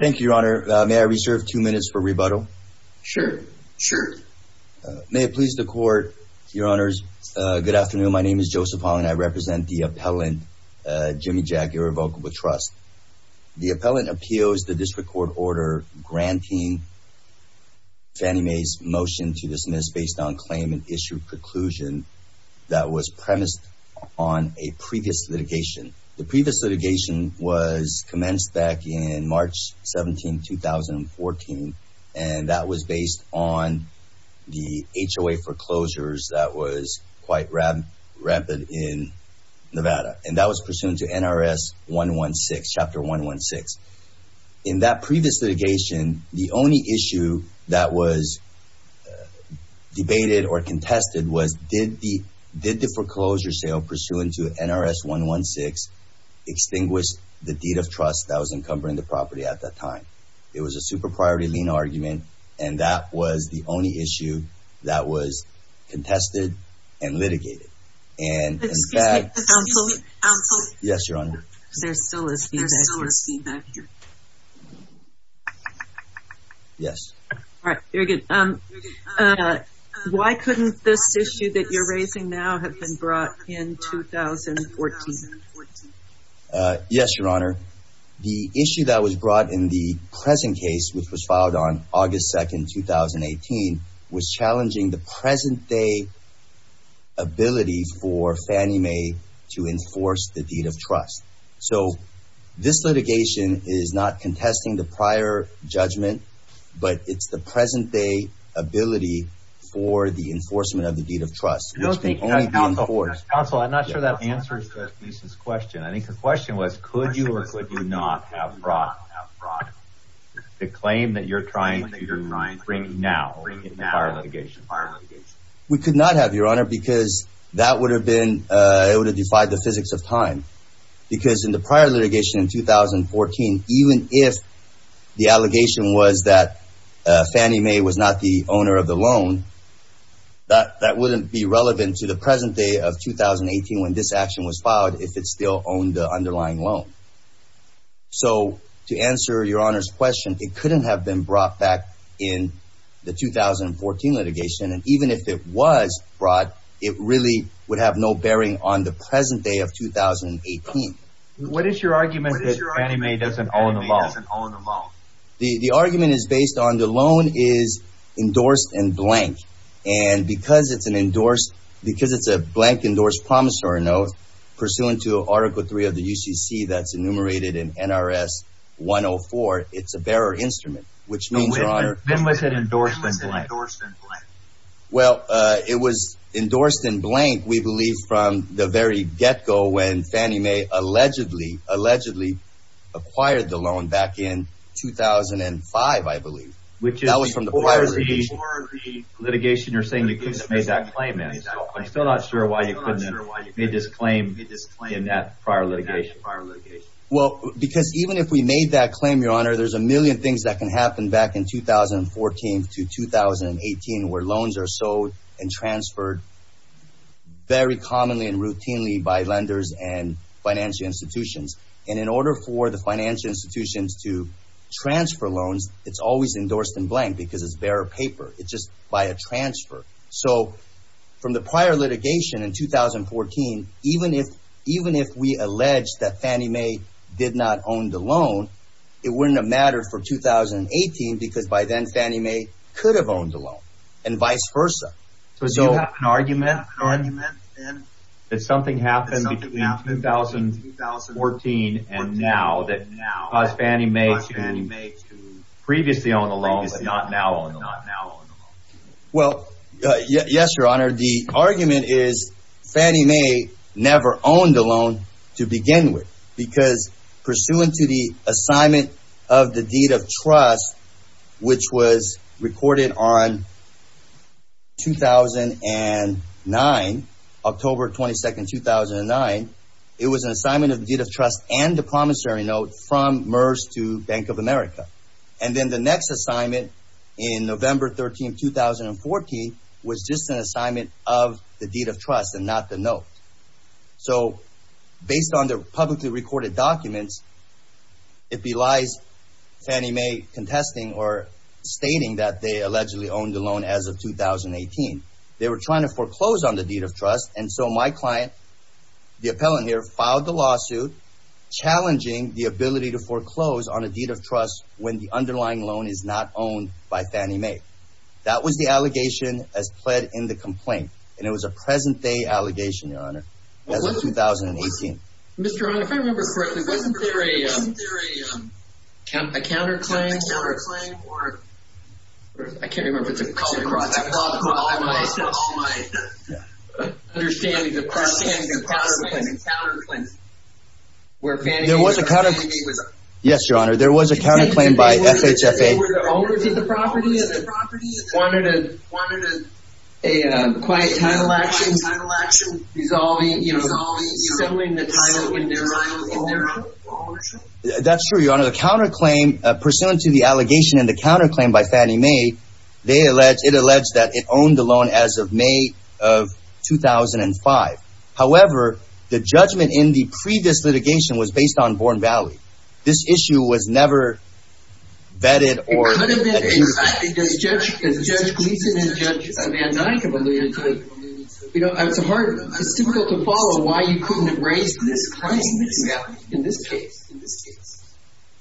Thank you, Your Honor. May I reserve two minutes for rebuttal? Sure, sure. May it please the court. Your Honors, good afternoon. My name is Joseph Hong and I represent the appellant, JimiJack Irrevocable Trust. The appellant appeals the district court order granting Fannie Mae's motion to dismiss based on claim and issue preclusion that was premised on a previous litigation. The previous litigation was commenced back in March 17, 2014, and that was based on the HOA foreclosures that was quite rampant in Nevada, and that was pursuant to NRS 116, Chapter 116. In that previous litigation, the only issue that was debated or extinguished the deed of trust that was encumbering the property at that time. It was a super priority lien argument, and that was the only issue that was contested and litigated. And in fact... Excuse me. Yes, Your Honor. There still is feedback here. Yes. All right, very good. Why couldn't this issue that you're raising now have been brought in 2014? Yes, Your Honor. The issue that was brought in the present case, which was filed on August 2nd, 2018, was challenging the present-day ability for Fannie Mae to enforce the deed of trust. So this litigation is not contesting the prior judgment, but it's the present-day ability for the enforcement of the deed of trust. Counsel, I'm not sure that answers this question. I think the question was, could you or could you not have brought the claim that you're trying to bring now in the prior litigation? We could not have, Your Honor, because that would have been able to defy the physics of time. Because in the prior litigation in 2014, even if the allegation was that Fannie Mae was not the owner of the loan, that wouldn't be relevant to the present day of 2018 when this action was filed, if it still owned the underlying loan. So to answer Your Honor's question, it couldn't have been brought back in the 2014 litigation. And even if it was brought, it really would have no bearing on the present day of 2018. What is your argument that Fannie Mae doesn't own the loan? The argument is based on the loan is endorsed in blank. And because it's an endorsed, because it's a blank endorsed promissory note, pursuant to Article 3 of the UCC that's enumerated in NRS 104, it's a bearer instrument, which means Your Honor. When was it endorsed in blank? Well, it was endorsed in blank, we believe, from the very get-go when Fannie Mae allegedly, allegedly acquired the loan back in 2005, I believe. Which is from the prior litigation. The litigation you're saying you couldn't have made that claim in. I'm still not sure why you couldn't have made this claim in that prior litigation. Well, because even if we made that claim, Your Honor, there's a million things that can happen back in 2014 to 2018 where loans are sold and transferred very commonly and routinely by lenders and financial institutions. And in order for the financial institutions to transfer loans, it's always endorsed in blank because it's bearer paper. It's just by a transfer. So from the prior litigation in 2014, even if, even if we alleged that Fannie Mae did not own the loan, it wouldn't have mattered for 2018 because by then Fannie Mae could have owned the loan and vice versa. So do you have an argument in 2014 and now that caused Fannie Mae to previously own the loan, but not now own the loan? Well, yes, Your Honor. The argument is Fannie Mae never owned the loan to begin with. Because pursuant to the assignment of the deed of trust, which was recorded on 2009, October 22nd, 2009, it was an assignment of the deed of trust and the promissory note from MERS to Bank of America. And then the next assignment in November 13th, 2014 was just an assignment of the deed of trust and not the note. So based on the publicly recorded documents, it belies Fannie Mae contesting or stating that they allegedly owned the loan as of 2018. They were trying to foreclose on the deed of trust and so my client, the appellant here, filed the lawsuit challenging the ability to foreclose on a deed of trust when the underlying loan is not owned by Fannie Mae. That was the allegation as pled in the complaint and it was a present-day allegation, Your Honor. Yes, Your Honor. There was a counterclaim by FHFA. That's true, Your Honor. According to the allegation and the counterclaim by Fannie Mae, it alleged that it owned the loan as of May of 2005. However, the judgment in the previous litigation was based on Bourne Valley. This issue was never vetted. It's difficult to follow why you couldn't have raised this claim in this case.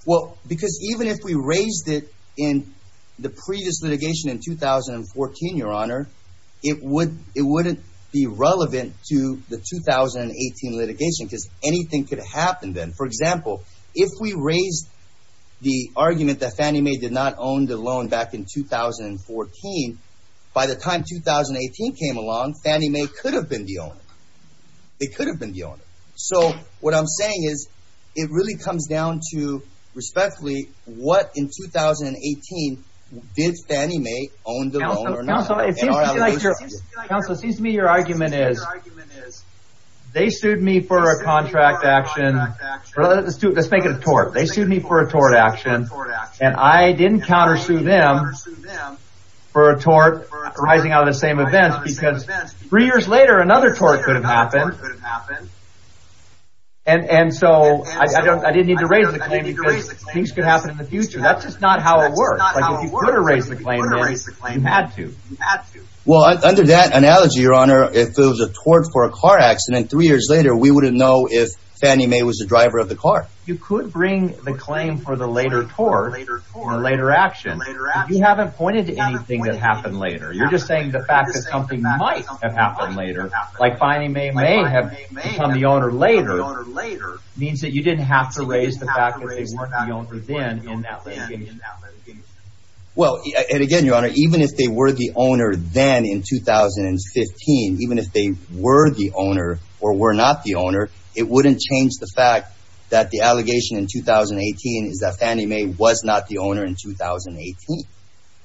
Well, because even if we raised it in the previous litigation in 2014, Your Honor, it wouldn't be relevant to the 2018 litigation because anything could happen then. For example, if we raised the argument that Fannie Mae did not own the loan back in 2014, by the time 2018 came along, Fannie Mae could have been the owner. They could have been the owner. So what I'm saying is it really comes down to, respectfully, what in 2018 did Fannie Mae own the loan or not? Counselor, it seems to me your argument is they sued me for a contract action. Let's make it a tort. They sued me for a tort action and I didn't counter sue them for a tort arising out of the same event because three years later another tort could have happened. And so I didn't need to raise the claim because things could happen in the future. That's just not how it works. If you could have raised the claim then, you had to. Well, under that analogy, Your Honor, if it was a tort for a car accident three years later, we wouldn't know if Fannie Mae was the driver of the car. You could bring the claim for the later tort, the later action, but you haven't pointed to anything that happened later. You're just saying the fact that something might have happened later, like Fannie Mae may have become the owner later, means that you didn't have to raise the fact that they weren't the owner then in that litigation. Well, and again, Your Honor, even if they were the owner then in 2015, even if they were the owner or were not the owner, it wouldn't change the fact that the allegation in 2018 is that Fannie Mae was not the owner in 2018.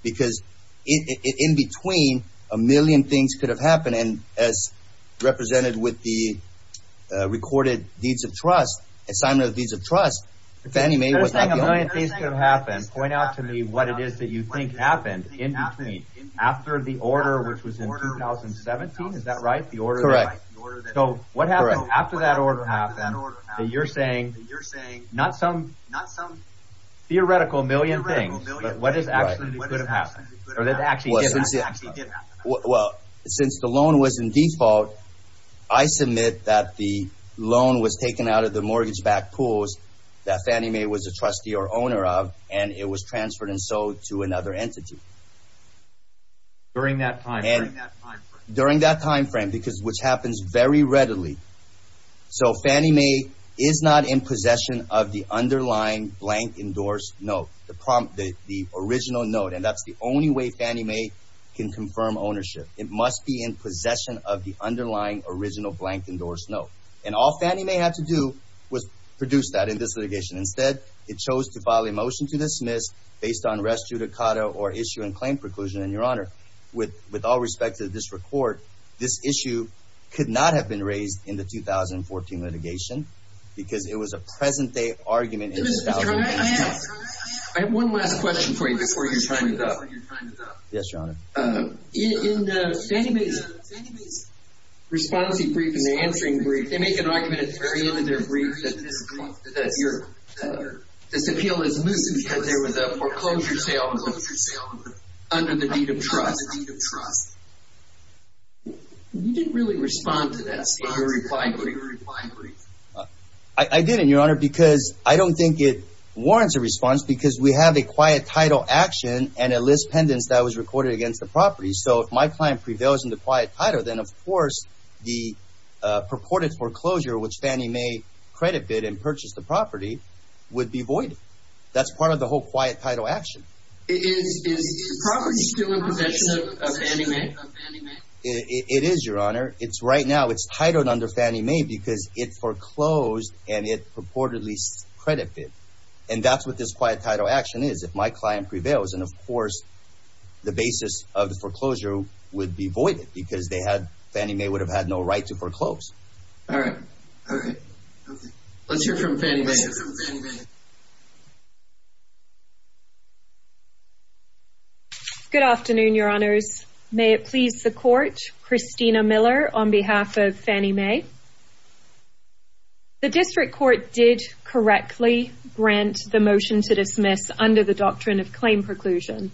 Because in between, a representative with the Recorded Deeds of Trust, Assignment of Deeds of Trust, Fannie Mae was not the owner. Point out to me what it is that you think happened in between. After the order, which was in 2017, is that right? Correct. So, what happened after that order happened that you're saying, not some theoretical million things, but what actually could have happened? Well, since the loan was in default, I submit that the loan was taken out of the mortgage-backed pools that Fannie Mae was a trustee or owner of, and it was transferred and sold to another entity. During that time frame? During that time frame, which happens very readily. So, Fannie Mae is not in possession of the underlying blank endorsed note, the original note, and that's the only way Fannie Mae can confirm ownership. It must be in possession of the underlying original blank endorsed note. And all Fannie Mae had to do was produce that in this litigation. Instead, it chose to file a motion to dismiss based on res judicata or issue and claim preclusion. And, Your Honor, with all respect to this record, this issue could not have been raised in the 2014 litigation because it was a present-day argument in 2018. I have one last question for you before you sign it up. Yes, Your Honor. In Fannie Mae's response brief and answering brief, they make an argument at the very end of their brief that this appeal is lucid because there was a foreclosure sale under the deed of trust. You didn't really respond to that statement in your reply brief. I didn't, Your Honor, because I don't think it warrants a response because we have a quiet title action and a list pendants that was recorded against the property. So, if my client prevails in the quiet title, then, of course, the purported foreclosure, which Fannie Mae credit bid and purchased the property, would be voided. That's part of the whole quiet title action. Is the property still in possession of Fannie Mae? It is, Your Honor. Right now, it's titled under Fannie Mae because it foreclosed and it purportedly credit bid. And that's what this quiet title action is, if my client prevails. And, of course, the basis of the foreclosure would be voided because Fannie Mae would have had no right to foreclose. All right. Let's hear from Fannie Mae. Good afternoon, Your Honors. May it please the Court, Christina Miller on behalf of Fannie Mae. The District Court did correctly grant the motion to dismiss under the doctrine of claim preclusion.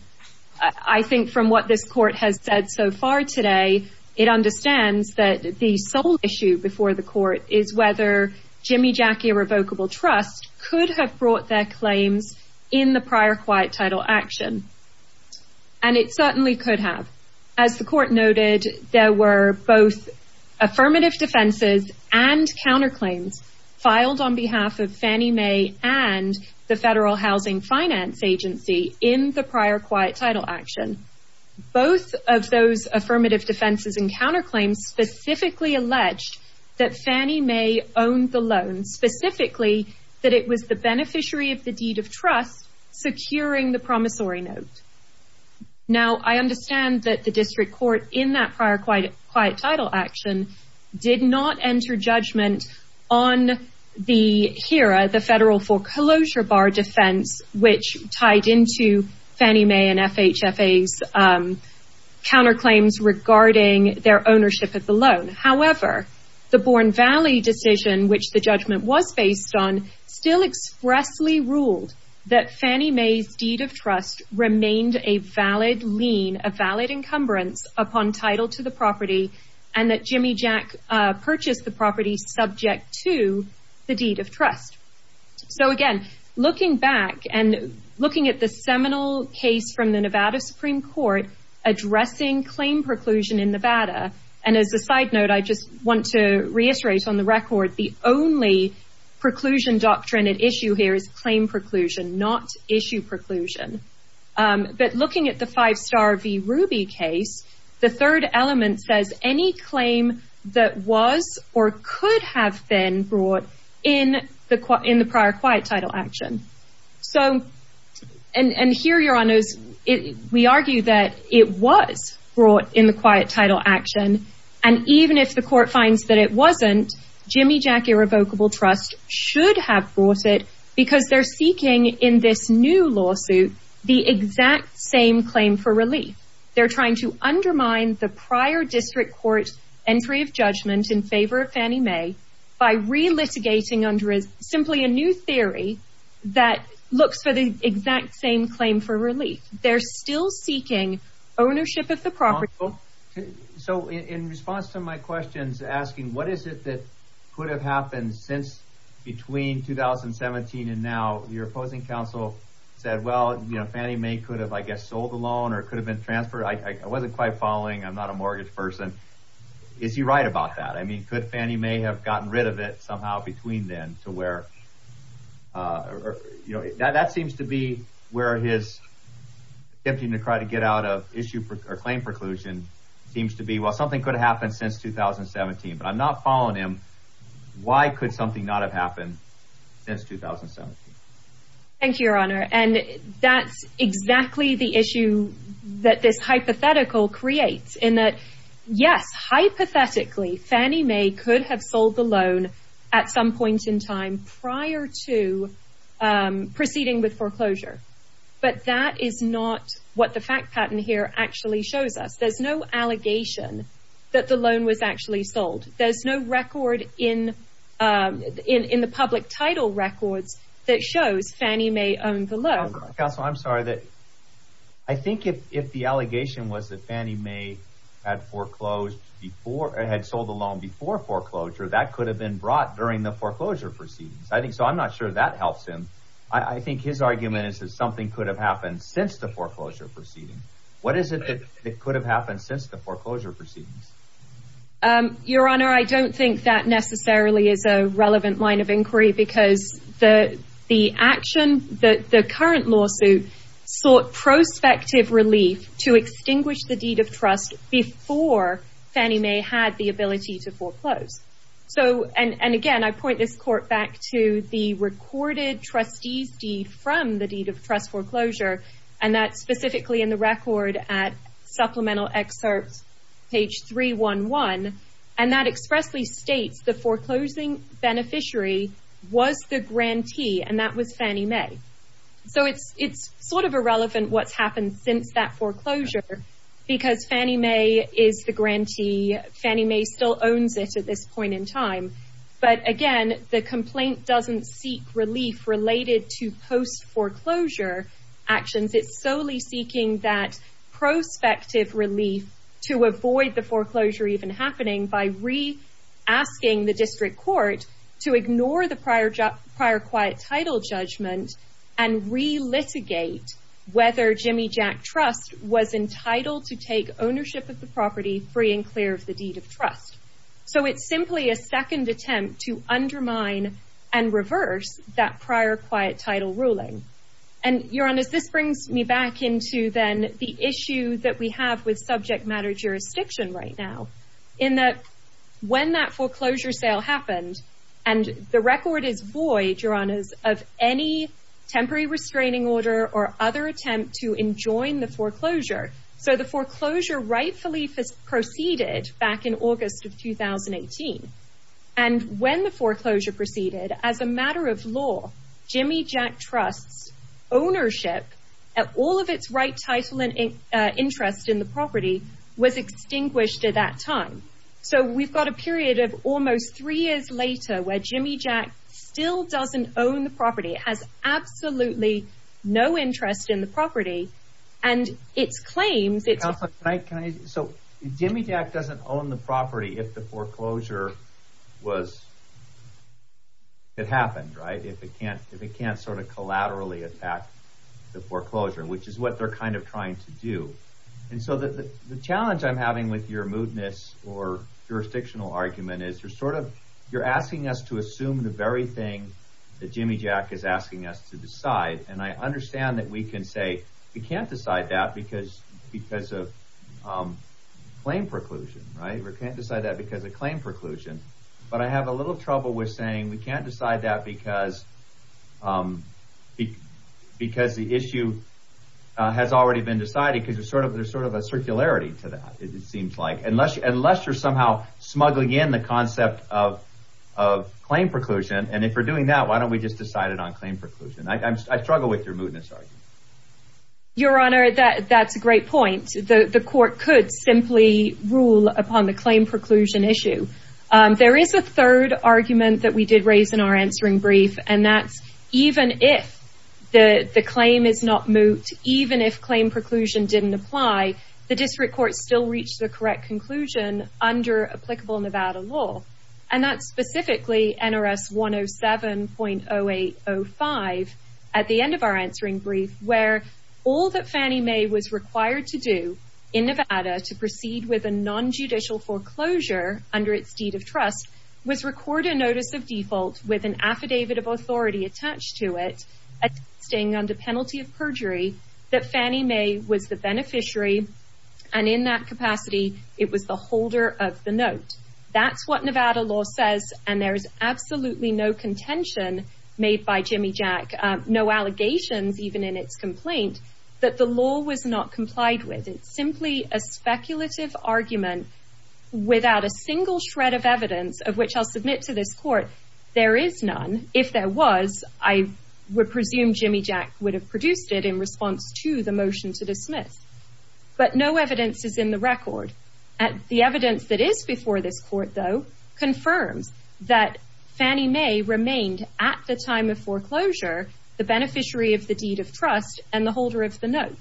I think from what this Court has said so far today, it understands that the sole issue before the Court is whether Jimmy Jackie Irrevocable Trust could have brought their claims in the prior quiet title action. And it certainly could have. As the Court noted, there were both affirmative defenses and counterclaims filed on behalf of Fannie Mae and the Federal Housing Finance Agency in the prior quiet title action. Both of those affirmative defenses and counterclaims specifically alleged that Fannie Mae owned the loan, specifically that it was the beneficiary of the deed of trust securing the promissory note. Now, I understand that the District Court in that prior quiet title action did not enter judgment on the HERA, the Federal Foreclosure Bar defense, which tied into Fannie Mae and FHFA's counterclaims regarding their ownership of the loan. However, the Bourne Valley decision, which the judgment was based on, still expressly ruled that Fannie Mae's deed of trust remained a valid lien, a valid encumbrance upon title to the property, and that Jimmy Jack purchased the property subject to the deed of trust. So again, looking back and looking at the seminal case from the Nevada Supreme Court addressing claim preclusion in Nevada, and as a side note, I just want to reiterate on the record, the only preclusion doctrine at issue here is claim preclusion, not issue preclusion. But looking at the Five Star v. Ruby case, the third element says any claim that was or could have been brought in the prior quiet title action. So, and here, Your Honors, we argue that it was brought in the quiet title action, and even if the court finds that it wasn't, Jimmy Jack Irrevocable Trust should have brought it because they're seeking in this new lawsuit the exact same claim for relief. They're trying to undermine the prior district court entry of judgment in favor of Fannie Mae by relitigating under simply a new theory that looks for the exact same claim for relief. They're still seeking ownership of the property. So in response to my questions asking what is it that could have happened since between 2017 and now, your opposing counsel said, well, you know, Fannie Mae could have, I guess, sold the loan or could have been transferred. I wasn't quite following. I'm not a mortgage person. Is he right about that? I mean, could Fannie Mae have gotten rid of it somehow between then to where, you know, that seems to be where his attempting to try to get out of this issue or claim preclusion seems to be, well, something could have happened since 2017, but I'm not following him. Why could something not have happened since 2017? Thank you, Your Honor. And that's exactly the issue that this hypothetical creates in that, yes, hypothetically, Fannie Mae could have sold the loan at some point in time prior to proceeding with foreclosure. But that is not what the fact pattern here actually shows us. There's no allegation that the loan was actually sold. There's no record in the public title records that shows Fannie Mae owned the loan. Counsel, I'm sorry. I think if the allegation was that Fannie Mae had foreclosed before, had sold the loan before foreclosure, that could have been brought during the foreclosure proceedings. I think so. I'm not sure that helps him. I think his argument is that something could have happened since the foreclosure proceedings. What is it that could have happened since the foreclosure proceedings? Your Honor, I don't think that necessarily is a relevant line of inquiry because the action, the current lawsuit, sought prospective relief to extinguish the deed of trust before Fannie Mae had the ability to foreclose. Again, I point this court back to the recorded trustee's deed from the deed of trust foreclosure, and that's specifically in the record at supplemental excerpt page 311. That expressly states the foreclosing beneficiary was the grantee, and that was Fannie Mae. It's sort of irrelevant what's happened since that foreclosure because Fannie Mae is the grantee. Fannie Mae still owns it at this point in time. But again, the complaint doesn't seek relief related to post foreclosure actions. It's solely seeking that prospective relief to avoid the foreclosure even happening by re-asking the district court to ignore the prior quiet title judgment and re-litigate whether Jimmy Jack Trust was entitled to take ownership of the property free and clear of the deed of trust. So it's simply a second attempt to undermine and reverse that prior quiet title ruling. And, Your Honors, this brings me back into then the issue that we have with subject matter jurisdiction right now in that when that foreclosure sale happened and the record is void, Your Honors, of any temporary restraining order or other attempt to enjoin the foreclosure. So the foreclosure rightfully proceeded back in August of 2018. And when the foreclosure proceeded, as a matter of law, Jimmy Jack Trust's ownership of all of its right title and interest in the property was extinguished at that time. So we've got a period of almost three years later where Jimmy Jack still doesn't own the property, has absolutely no interest in the property. So Jimmy Jack doesn't own the property if the foreclosure happened, if it can't sort of collaterally attack the foreclosure, which is what they're kind of trying to do. And so the challenge I'm having with your mootness or jurisdictional argument is you're sort of you're asking us to assume the very thing that Jimmy Jack is asking us to decide. And I understand that we can say we can't decide that because of claim preclusion, right? We can't decide that because of claim preclusion. But I have a little trouble with saying we can't decide that because the issue has already been decided because there's sort of a circularity to that, it seems like, unless you're somehow smuggling in the concept of claim preclusion. And if we're doing that, why don't we just decide it on claim preclusion? I struggle with your mootness argument. Your Honor, that's a great point. The court could simply rule upon the claim preclusion issue. There is a third argument that we did raise in our answering brief, and that's even if the claim is not moot, even if claim preclusion didn't apply, the district court still reached the correct conclusion under applicable Nevada law. And that's specifically NRS 107.0805 at the end of our answering brief, where all that Fannie Mae was required to do in Nevada to proceed with a nonjudicial foreclosure under its deed of trust was record a notice of default with an affidavit of authority attached to it, attesting under penalty of perjury that Fannie Mae was the beneficiary, and in that capacity, it was the holder of the note. That's what Nevada law says, and there is absolutely no contention made by Jimmy Jack, no allegations even in its complaint, that the law was not complied with. It's simply a speculative argument without a single shred of evidence of which I'll submit to this court. There is none. If there was, I would presume Jimmy Jack would have produced it in response to the motion to dismiss, but no evidence is in the record. The evidence that is before this court, though, confirms that Fannie Mae remained at the time of foreclosure the beneficiary of the deed of trust and the holder of the note.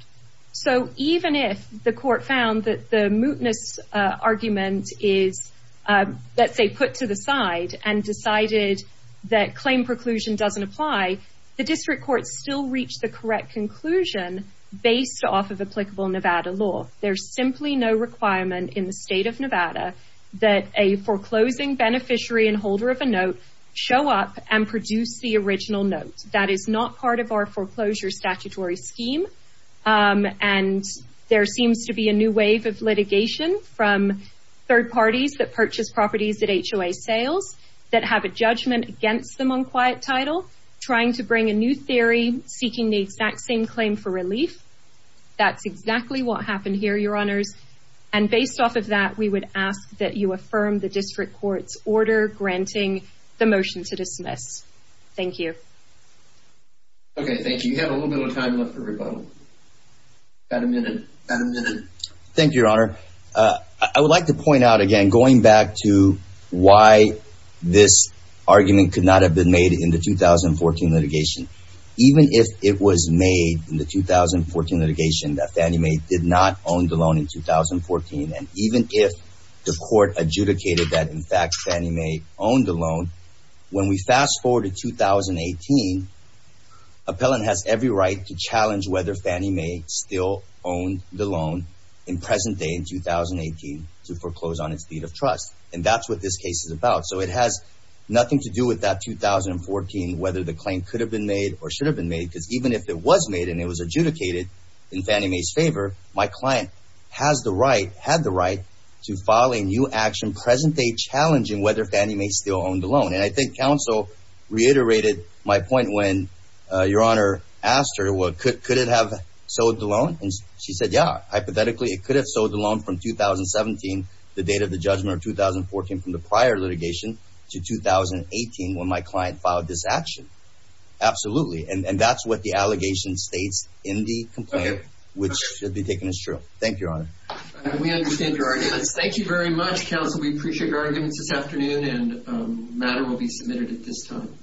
So even if the court found that the mootness argument is, let's say, put to the side and decided that claim preclusion doesn't apply, the district court still reached the correct conclusion based off of applicable Nevada law. There's simply no requirement in the state of Nevada that a foreclosing beneficiary and holder of a note show up and produce the original note. That is not part of our foreclosure statutory scheme, and there seems to be a new wave of litigation from third parties that purchase properties at HOA sales that have a judgment against them on quiet title, trying to bring a new theory, seeking the exact same claim for relief. That's exactly what happened here, Your Honors. And based off of that, we would ask that you affirm the district court's order granting the motion to dismiss. Thank you. Okay, thank you. We have a little bit of time left for rebuttal. We've got a minute. Thank you, Your Honor. I would like to point out again, going back to why this argument could not have been made in the 2014 litigation, even if it was made in the 2014 litigation that Fannie Mae did not own the loan in 2014. And even if the court adjudicated that, in fact, Fannie Mae owned the loan, when we fast forward to 2018, appellant has every right to challenge whether Fannie Mae still owned the loan in present day in 2018 to foreclose on its deed of trust. And that's what this case is about. So it has nothing to do with that 2014, whether the claim could have been made or should have been made, because even if it was made and it was adjudicated in Fannie Mae's favor, my client has the right, had the right to file a new action present day challenging whether Fannie Mae still owned the loan. And I think counsel reiterated my point when Your Honor asked her, well, could it have sold the loan? And she said, yeah, hypothetically, it could have sold the loan from 2017, the date of the judgment of 2014, from the prior litigation to 2018 when my client filed this action. Absolutely. And that's what the allegation states in the complaint, which should be taken as true. Thank you, Your Honor. We understand your arguments. Thank you very much, counsel. We appreciate your arguments this afternoon and matter will be submitted at this time.